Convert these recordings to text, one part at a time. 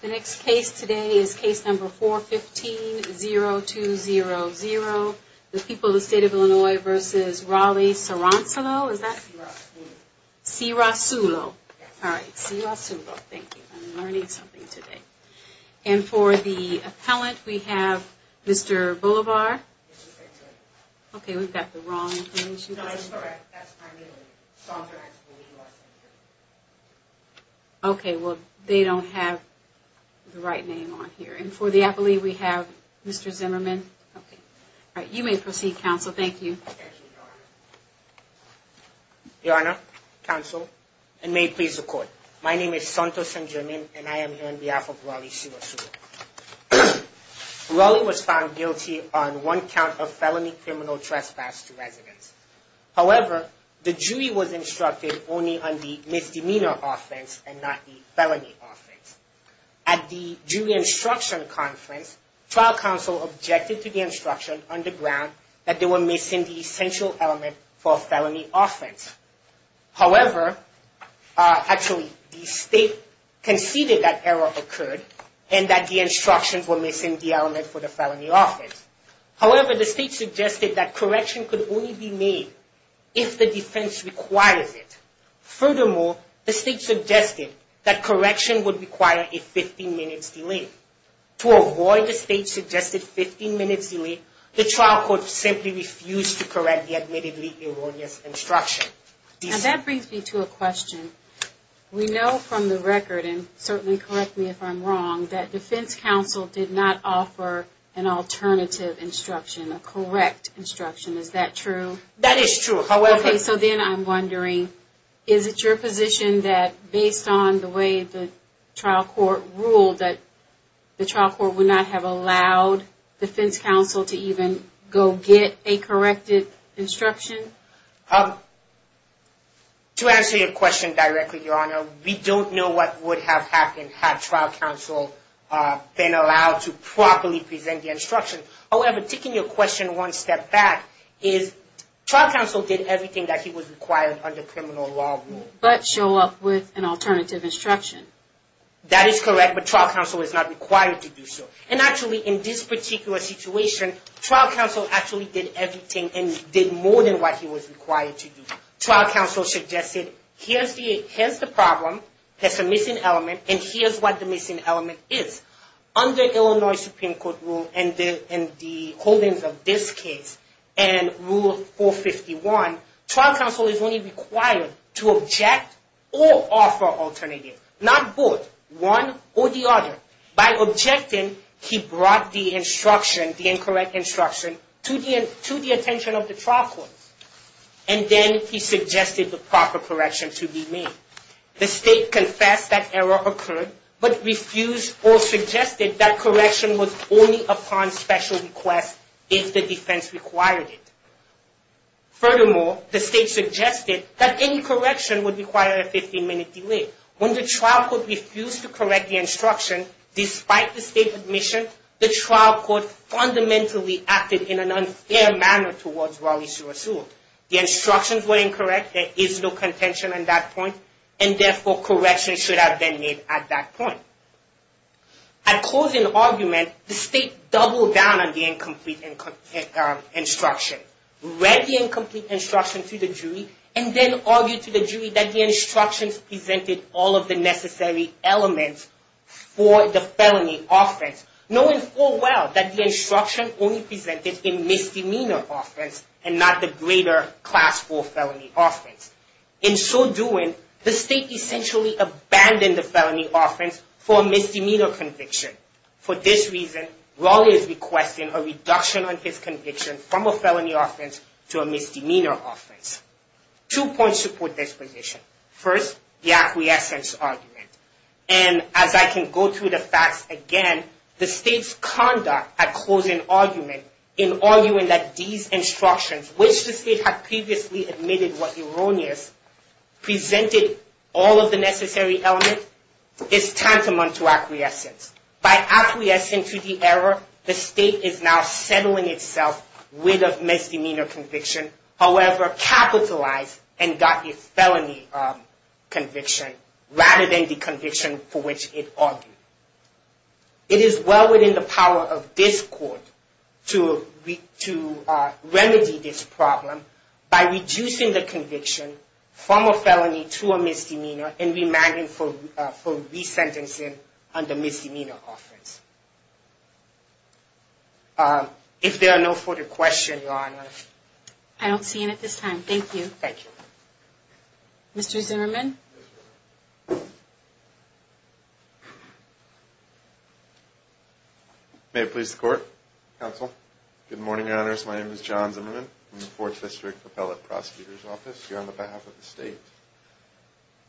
The next case today is case number 415-0200, the people of the state of Illinois v. Raleigh-Saransilo, is that? Si-ra-su-lo. Si-ra-su-lo. Yes. All right, Si-ra-su-lo. Thank you. I'm learning something today. And for the appellant, we have Mr. Boulevard. Yes, I'm sorry. Okay, we've got the wrong information. No, I'm sorry. That's my name. Okay, well, they don't have the right name on here. And for the appellee, we have Mr. Zimmerman. Okay. All right, you may proceed, counsel. Thank you. Thank you, Your Honor. Your Honor, counsel, and may it please the Court, my name is Santos N'Djamim, and I am here on behalf of Raleigh-Si-ra-su-lo. Raleigh was found guilty on one count of felony criminal trespass to residents. However, the jury was instructed only on the misdemeanor offense and not the felony offense. At the jury instruction conference, trial counsel objected to the instruction on the ground that they were missing the essential element for a felony offense. However, actually, the State conceded that error occurred and that the instructions were missing the element for the felony offense. However, the State suggested that correction could only be made if the defense requires it. Furthermore, the State suggested that correction would require a 15-minute delay. To avoid the State's suggested 15-minute delay, the trial court simply refused to correct the admittedly erroneous instruction. We know from the record, and certainly correct me if I'm wrong, that defense counsel did not offer an alternative instruction, a correct instruction. Is that true? That is true. Okay, so then I'm wondering, is it your position that based on the way the trial court ruled that the trial court would not have allowed defense counsel to even go get a corrected instruction? To answer your question directly, Your Honor, we don't know what would have happened had trial counsel been allowed to properly present the instruction. However, taking your question one step back, is trial counsel did everything that he was required under criminal law rule. But show up with an alternative instruction. That is correct, but trial counsel is not required to do so. And actually, in this particular situation, trial counsel actually did everything and did more than what he was required to do. Trial counsel suggested, here's the problem, here's the missing element, and here's what the missing element is. Under Illinois Supreme Court rule and the holdings of this case and Rule 451, trial counsel is only required to object or offer alternatives. Not both, one or the other. By objecting, he brought the instruction, the incorrect instruction, to the attention of the trial court. And then he suggested the proper correction to be made. The state confessed that error occurred, but refused or suggested that correction was only upon special request if the defense required it. Furthermore, the state suggested that any correction would require a 15-minute delay. When the trial court refused to correct the instruction, despite the state's admission, the trial court fundamentally acted in an unfair manner towards Raleigh Suresul. The instructions were incorrect, there is no contention on that point, and therefore correction should have been made at that point. At closing argument, the state doubled down on the incomplete instruction, read the incomplete instruction to the jury, and then argued to the jury that the instructions presented all of the necessary elements for the felony offense, knowing full well that the instruction only presented a misdemeanor offense and not the greater class 4 felony offense. In so doing, the state essentially abandoned the felony offense for a misdemeanor conviction. For this reason, Raleigh is requesting a reduction on his conviction from a felony offense to a misdemeanor offense. Two points support this position. First, the acquiescence argument. And as I can go through the facts again, the state's conduct at closing argument in arguing that these instructions, which the state had previously admitted was erroneous, presented all of the necessary elements, is tantamount to acquiescence. By acquiescing to the error, the state is now settling itself with a misdemeanor conviction, however, capitalized and got a felony conviction rather than the conviction for which it argued. It is well within the power of this court to remedy this problem by reducing the conviction from a felony to a misdemeanor and remanding for resentencing under misdemeanor offense. If there are no further questions, Your Honor. I don't see any at this time. Thank you. Thank you. Mr. Zimmerman. May it please the Court, Counsel. Good morning, Your Honors. My name is John Zimmerman from the Fourth District Appellate Prosecutor's Office here on behalf of the state.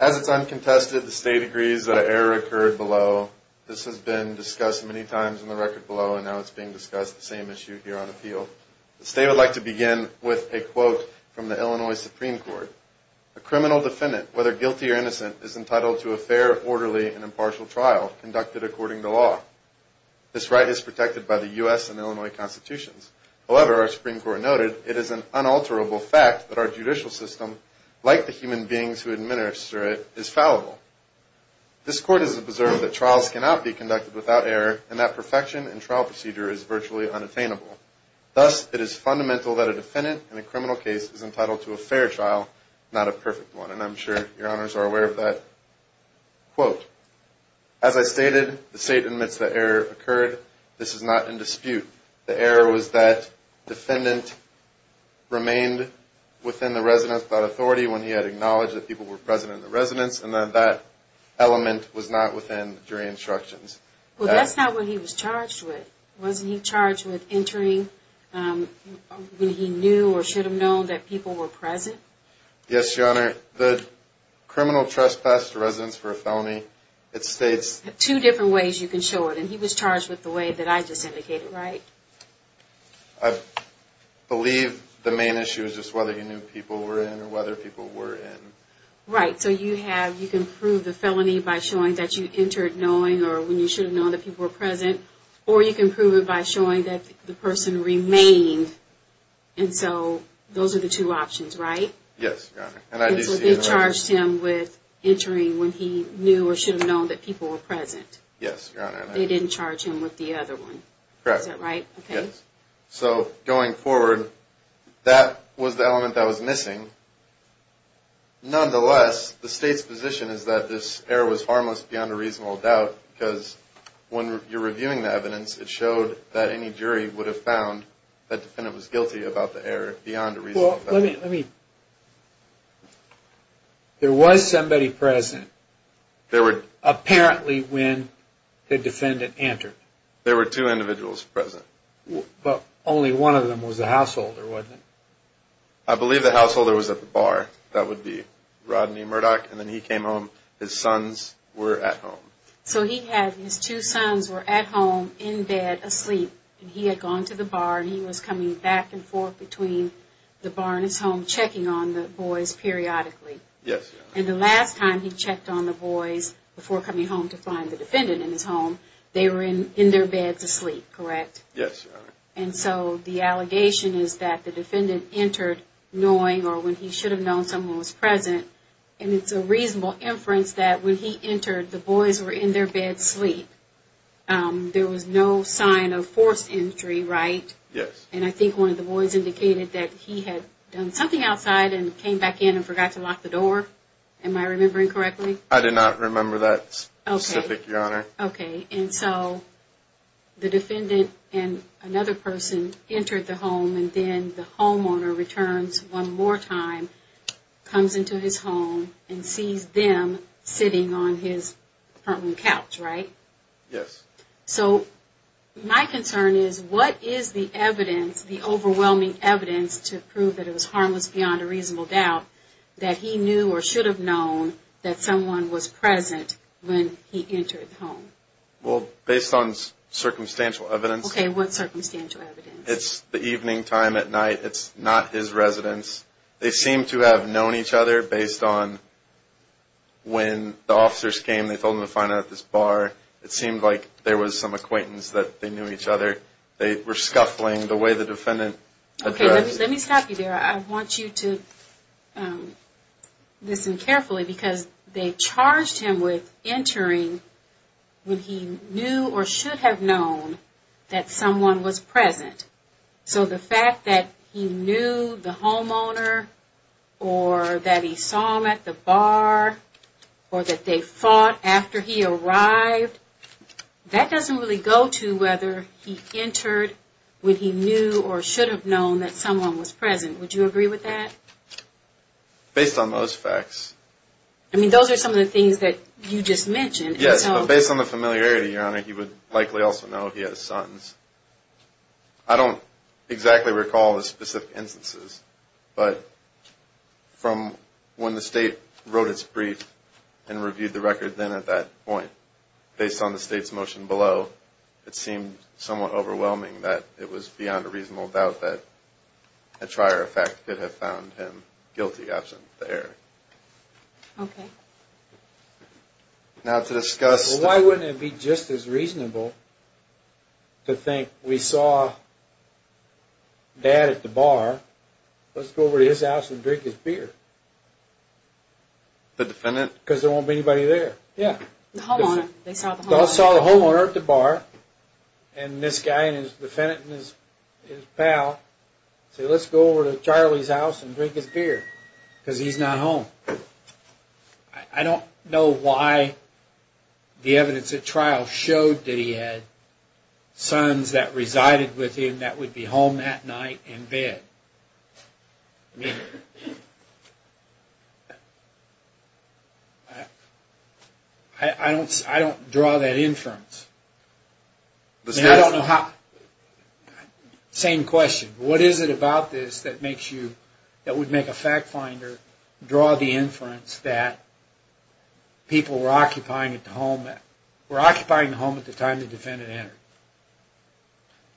As it's uncontested, the state agrees that an error occurred below. This has been discussed many times in the record below, and now it's being discussed, the same issue here on appeal. The state would like to begin with a quote from the Illinois Supreme Court. A criminal defendant, whether guilty or innocent, is entitled to a fair, orderly, and impartial trial conducted according to law. This right is protected by the U.S. and Illinois Constitutions. However, our Supreme Court noted, it is an unalterable fact that our judicial system, like the human beings who administer it, is fallible. This Court has observed that trials cannot be conducted without error, and that perfection in trial procedure is virtually unattainable. Thus, it is fundamental that a defendant in a criminal case is entitled to a fair trial, not a perfect one. And I'm sure Your Honors are aware of that quote. As I stated, the state admits that error occurred. This is not in dispute. The error was that defendant remained within the residence without authority when he had acknowledged that people were present in the residence, and that that element was not within jury instructions. Well, that's not what he was charged with. Wasn't he charged with entering when he knew or should have known that people were present? Yes, Your Honor. The criminal trespass to residence for a felony, it states... Two different ways you can show it, and he was charged with the way that I just indicated, right? I believe the main issue is just whether he knew people were in or whether people were in. Right, so you can prove the felony by showing that you entered knowing or when you should have known that people were present, or you can prove it by showing that the person remained, and so those are the two options, right? Yes, Your Honor. And so they charged him with entering when he knew or should have known that people were present. Yes, Your Honor. They didn't charge him with the other one. Correct. Is that right? Yes. So going forward, that was the element that was missing. Nonetheless, the state's position is that this error was harmless beyond a reasonable doubt because when you're reviewing the evidence, it showed that any jury would have found that defendant was guilty about the error beyond a reasonable doubt. Let me... There was somebody present apparently when the defendant entered. There were two individuals present. But only one of them was the householder, wasn't it? I believe the householder was at the bar. That would be Rodney Murdock, and then he came home. His sons were at home. So he had his two sons were at home, in bed, asleep, and he had gone to the bar, and he was coming back and forth between the bar and his home, checking on the boys periodically. Yes, Your Honor. And the last time he checked on the boys before coming home to find the defendant in his home, they were in their beds asleep, correct? Yes, Your Honor. And so the allegation is that the defendant entered knowing or when he should have known someone was present, and it's a reasonable inference that when he entered, the boys were in their beds asleep. There was no sign of forced entry, right? Yes. And I think one of the boys indicated that he had done something outside and came back in and forgot to lock the door. Am I remembering correctly? I did not remember that specific, Your Honor. Okay. And so the defendant and another person entered the home, and then the homeowner returns one more time, comes into his home, and sees them sitting on his front-room couch, right? Yes. So my concern is what is the evidence, the overwhelming evidence to prove that it was harmless beyond a reasonable doubt, that he knew or should have known that someone was present when he entered the home? Well, based on circumstantial evidence. Okay. What circumstantial evidence? It's the evening time at night. It's not his residence. They seem to have known each other based on when the officers came. They told him to find out at this bar. It seemed like there was some acquaintance that they knew each other. They were scuffling the way the defendant approached. Okay. Let me stop you there. I want you to listen carefully because they charged him with entering when he knew or should have known that someone was present. So the fact that he knew the homeowner or that he saw him at the bar or that they fought after he arrived, that doesn't really go to whether he entered when he knew or should have known that someone was present. Would you agree with that? Based on those facts. I mean, those are some of the things that you just mentioned. Yes, but based on the familiarity, Your Honor, he would likely also know he has sons. I don't exactly recall the specific instances, but from when the state wrote its brief and reviewed the record then at that point, based on the state's motion below, it seemed somewhat overwhelming that it was beyond a reasonable doubt that a trier of fact could have found him guilty absent there. Okay. Now to discuss... Why wouldn't it be just as reasonable to think we saw Dad at the bar. Let's go over to his house and drink his beer. The defendant? Because there won't be anybody there. Yeah. The homeowner. They saw the homeowner. They saw the homeowner at the bar and this guy and his defendant and his pal say, let's go over to Charlie's house and drink his beer because he's not home. I don't know why the evidence at trial showed that he had sons that resided with him that would be home that night in bed. I don't draw that inference. I don't know how... Same question. What is it about this that would make a fact finder draw the inference that people were occupying the home at the time the defendant entered?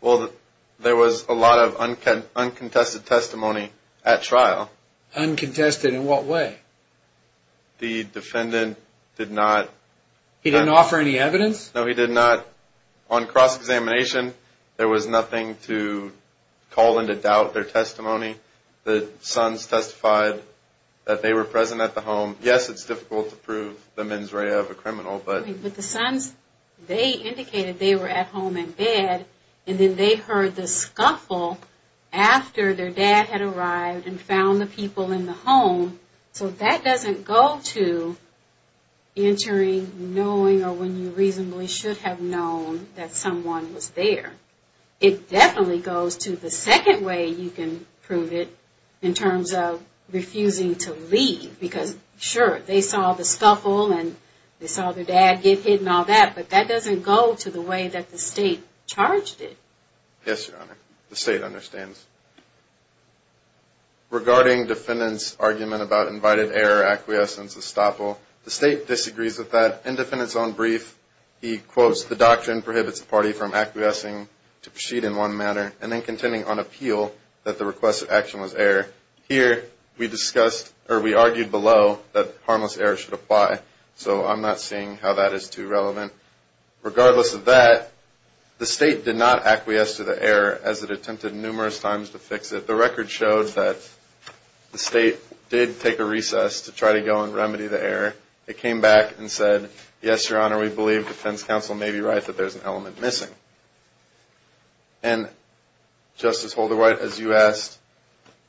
Well, there was a lot of uncontested testimony at trial. Uncontested in what way? The defendant did not... He didn't offer any evidence? No, he did not. On cross-examination, there was nothing to call into doubt their testimony. The sons testified that they were present at the home. Yes, it's difficult to prove the mens rea of a criminal, but... But the sons, they indicated they were at home in bed and then they heard the scuffle after their dad had arrived and found the people in the home. So that doesn't go to entering knowing or when you reasonably should have known that someone was there. It definitely goes to the second way you can prove it in terms of refusing to leave. Because, sure, they saw the scuffle and they saw their dad get hit and all that, but that doesn't go to the way that the state charged it. Yes, Your Honor. The state understands. Regarding defendant's argument about invited error acquiescence estoppel, the state disagrees with that. In defendant's own brief, he quotes, The doctrine prohibits the party from acquiescing to proceed in one manner and then contending on appeal that the request of action was error. Here, we discussed, or we argued below, that harmless error should apply. So I'm not seeing how that is too relevant. Regardless of that, the state did not acquiesce to the error as it attempted numerous times to fix it. The record showed that the state did take a recess to try to go and remedy the error. It came back and said, Yes, Your Honor, we believe defense counsel may be right that there's an element missing. And, Justice Holderwhite, as you asked,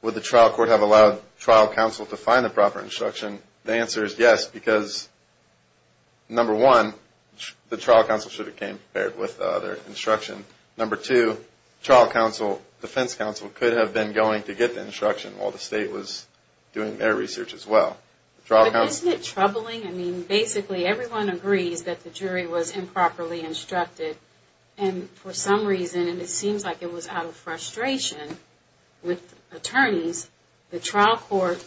would the trial court have allowed trial counsel to find the proper instruction? The answer is yes, because, number one, the trial counsel should have came prepared with their instruction. Number two, trial counsel, defense counsel, could have been going to get the instruction while the state was doing their research as well. But isn't it troubling? I mean, basically, everyone agrees that the jury was improperly instructed. And for some reason, and it seems like it was out of frustration with attorneys, the trial court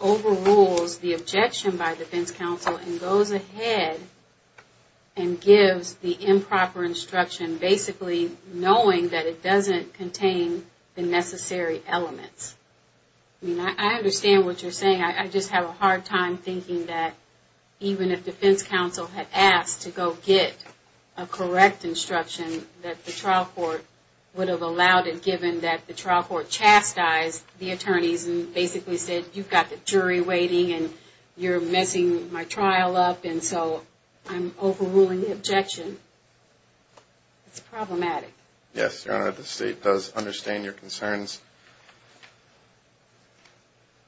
overrules the objection by defense counsel and goes ahead and gives the improper instruction, basically knowing that it doesn't contain the necessary elements. I mean, I understand what you're saying. I just have a hard time thinking that even if defense counsel had asked to go get a correct instruction, that the trial court would have allowed it given that the trial court chastised the attorneys and basically said you've got the jury waiting and you're messing my trial up, and so I'm overruling the objection. It's problematic. Yes, Your Honor, the state does understand your concerns.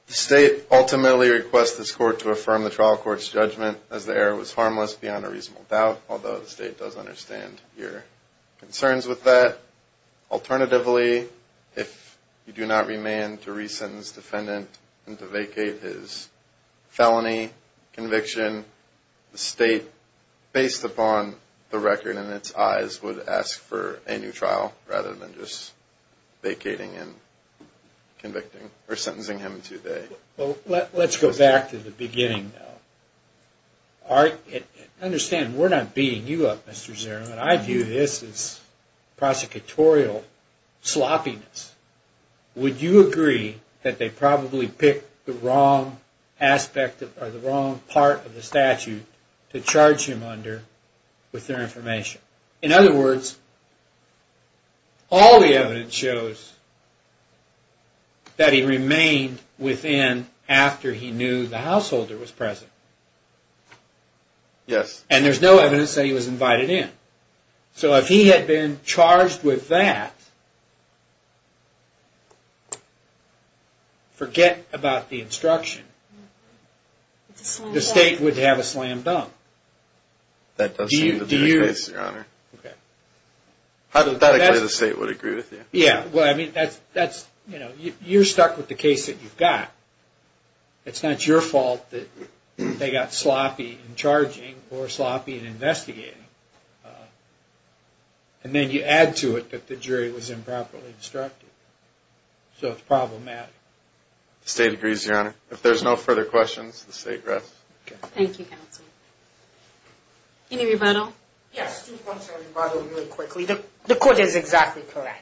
The state ultimately requests this court to affirm the trial court's judgment as the error was harmless beyond a reasonable doubt, although the state does understand your concerns with that. Alternatively, if you do not remain to re-sentence defendant and to vacate his felony conviction, the state, based upon the record in its eyes, would ask for a new trial rather than just vacating and convicting or sentencing him to day. Let's go back to the beginning. I understand we're not beating you up, Mr. Zierman. I view this as prosecutorial sloppiness. Would you agree that they probably picked the wrong part of the statute to charge him under with their information? In other words, all the evidence shows that he remained within after he knew the householder was present. Yes. And there's no evidence that he was invited in. So if he had been charged with that, forget about the instruction. The state would have a slam dunk. That does seem to be the case, Your Honor. I think the state would agree with you. You're stuck with the case that you've got. It's not your fault that they got sloppy in charging or sloppy in investigating. And then you add to it that the jury was improperly instructed. So it's problematic. The state agrees, Your Honor. If there's no further questions, the state rests. Thank you, counsel. Any rebuttal? Yes, two points of rebuttal really quickly. The court is exactly correct.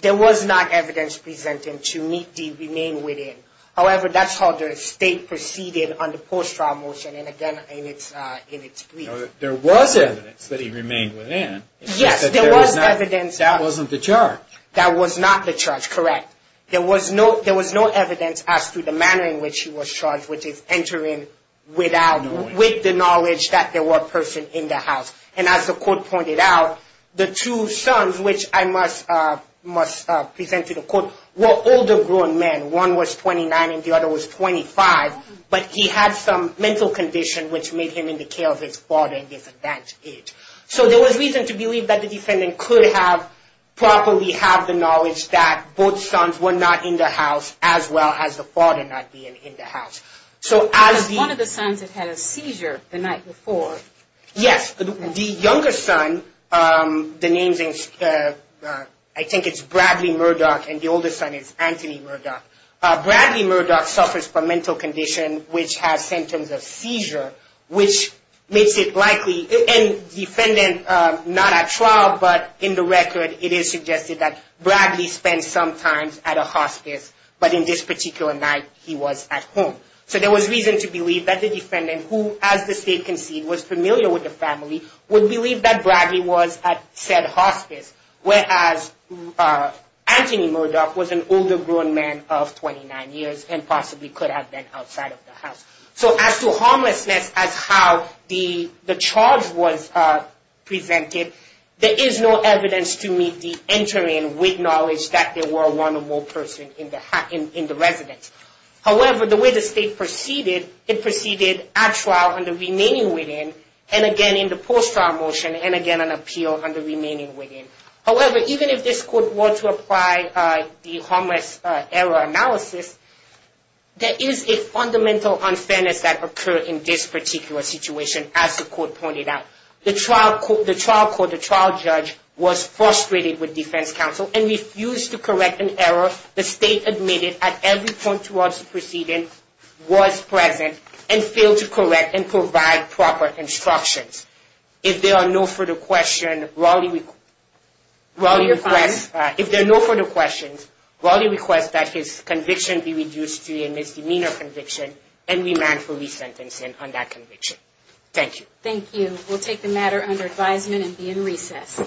There was not evidence presented to meet the remain within. However, that's how the state proceeded on the post-trial motion, and again, in its brief. There was evidence that he remained within. Yes, there was evidence. That wasn't the charge. That was not the charge, correct. There was no evidence as to the manner in which he was charged, which is entering with the knowledge that there was a person in the house. And as the court pointed out, the two sons, which I must present to the court, were older grown men. One was 29 and the other was 25, but he had some mental condition which made him in the care of his father, and that's it. So there was reason to believe that the defendant could have properly had the knowledge that both sons were not in the house as well as the father not being in the house. Because one of the sons had had a seizure the night before. Yes. The younger son, I think it's Bradley Murdoch, and the older son is Anthony Murdoch. Bradley Murdoch suffers from a mental condition which has symptoms of seizure, which makes it likely, and the defendant not at trial, but in the record, it is suggested that Bradley spent some time at a hospice, but in this particular night, he was at home. So there was reason to believe that the defendant, who, as the state concedes, was familiar with the family, would believe that Bradley was at said hospice, whereas Anthony Murdoch was an older grown man of 29 years and possibly could have been outside of the house. So as to harmlessness as how the charge was presented, there is no evidence to meet the entering with knowledge that there were one or more persons in the residence. However, the way the state proceeded, it proceeded at trial under remaining within, and again in the post-trial motion, and again on appeal under remaining within. However, even if this court were to apply the harmless error analysis, there is a fundamental unfairness that occurred in this particular situation, as the court pointed out. The trial court, the trial judge, was frustrated with defense counsel and refused to correct an error the state admitted at every point towards the proceeding was present and failed to correct and provide proper instructions. If there are no further questions, Raleigh requests that his conviction be reduced to a misdemeanor conviction and remand for resentencing on that conviction. Thank you. Thank you. We'll take the matter under advisement and be in recess.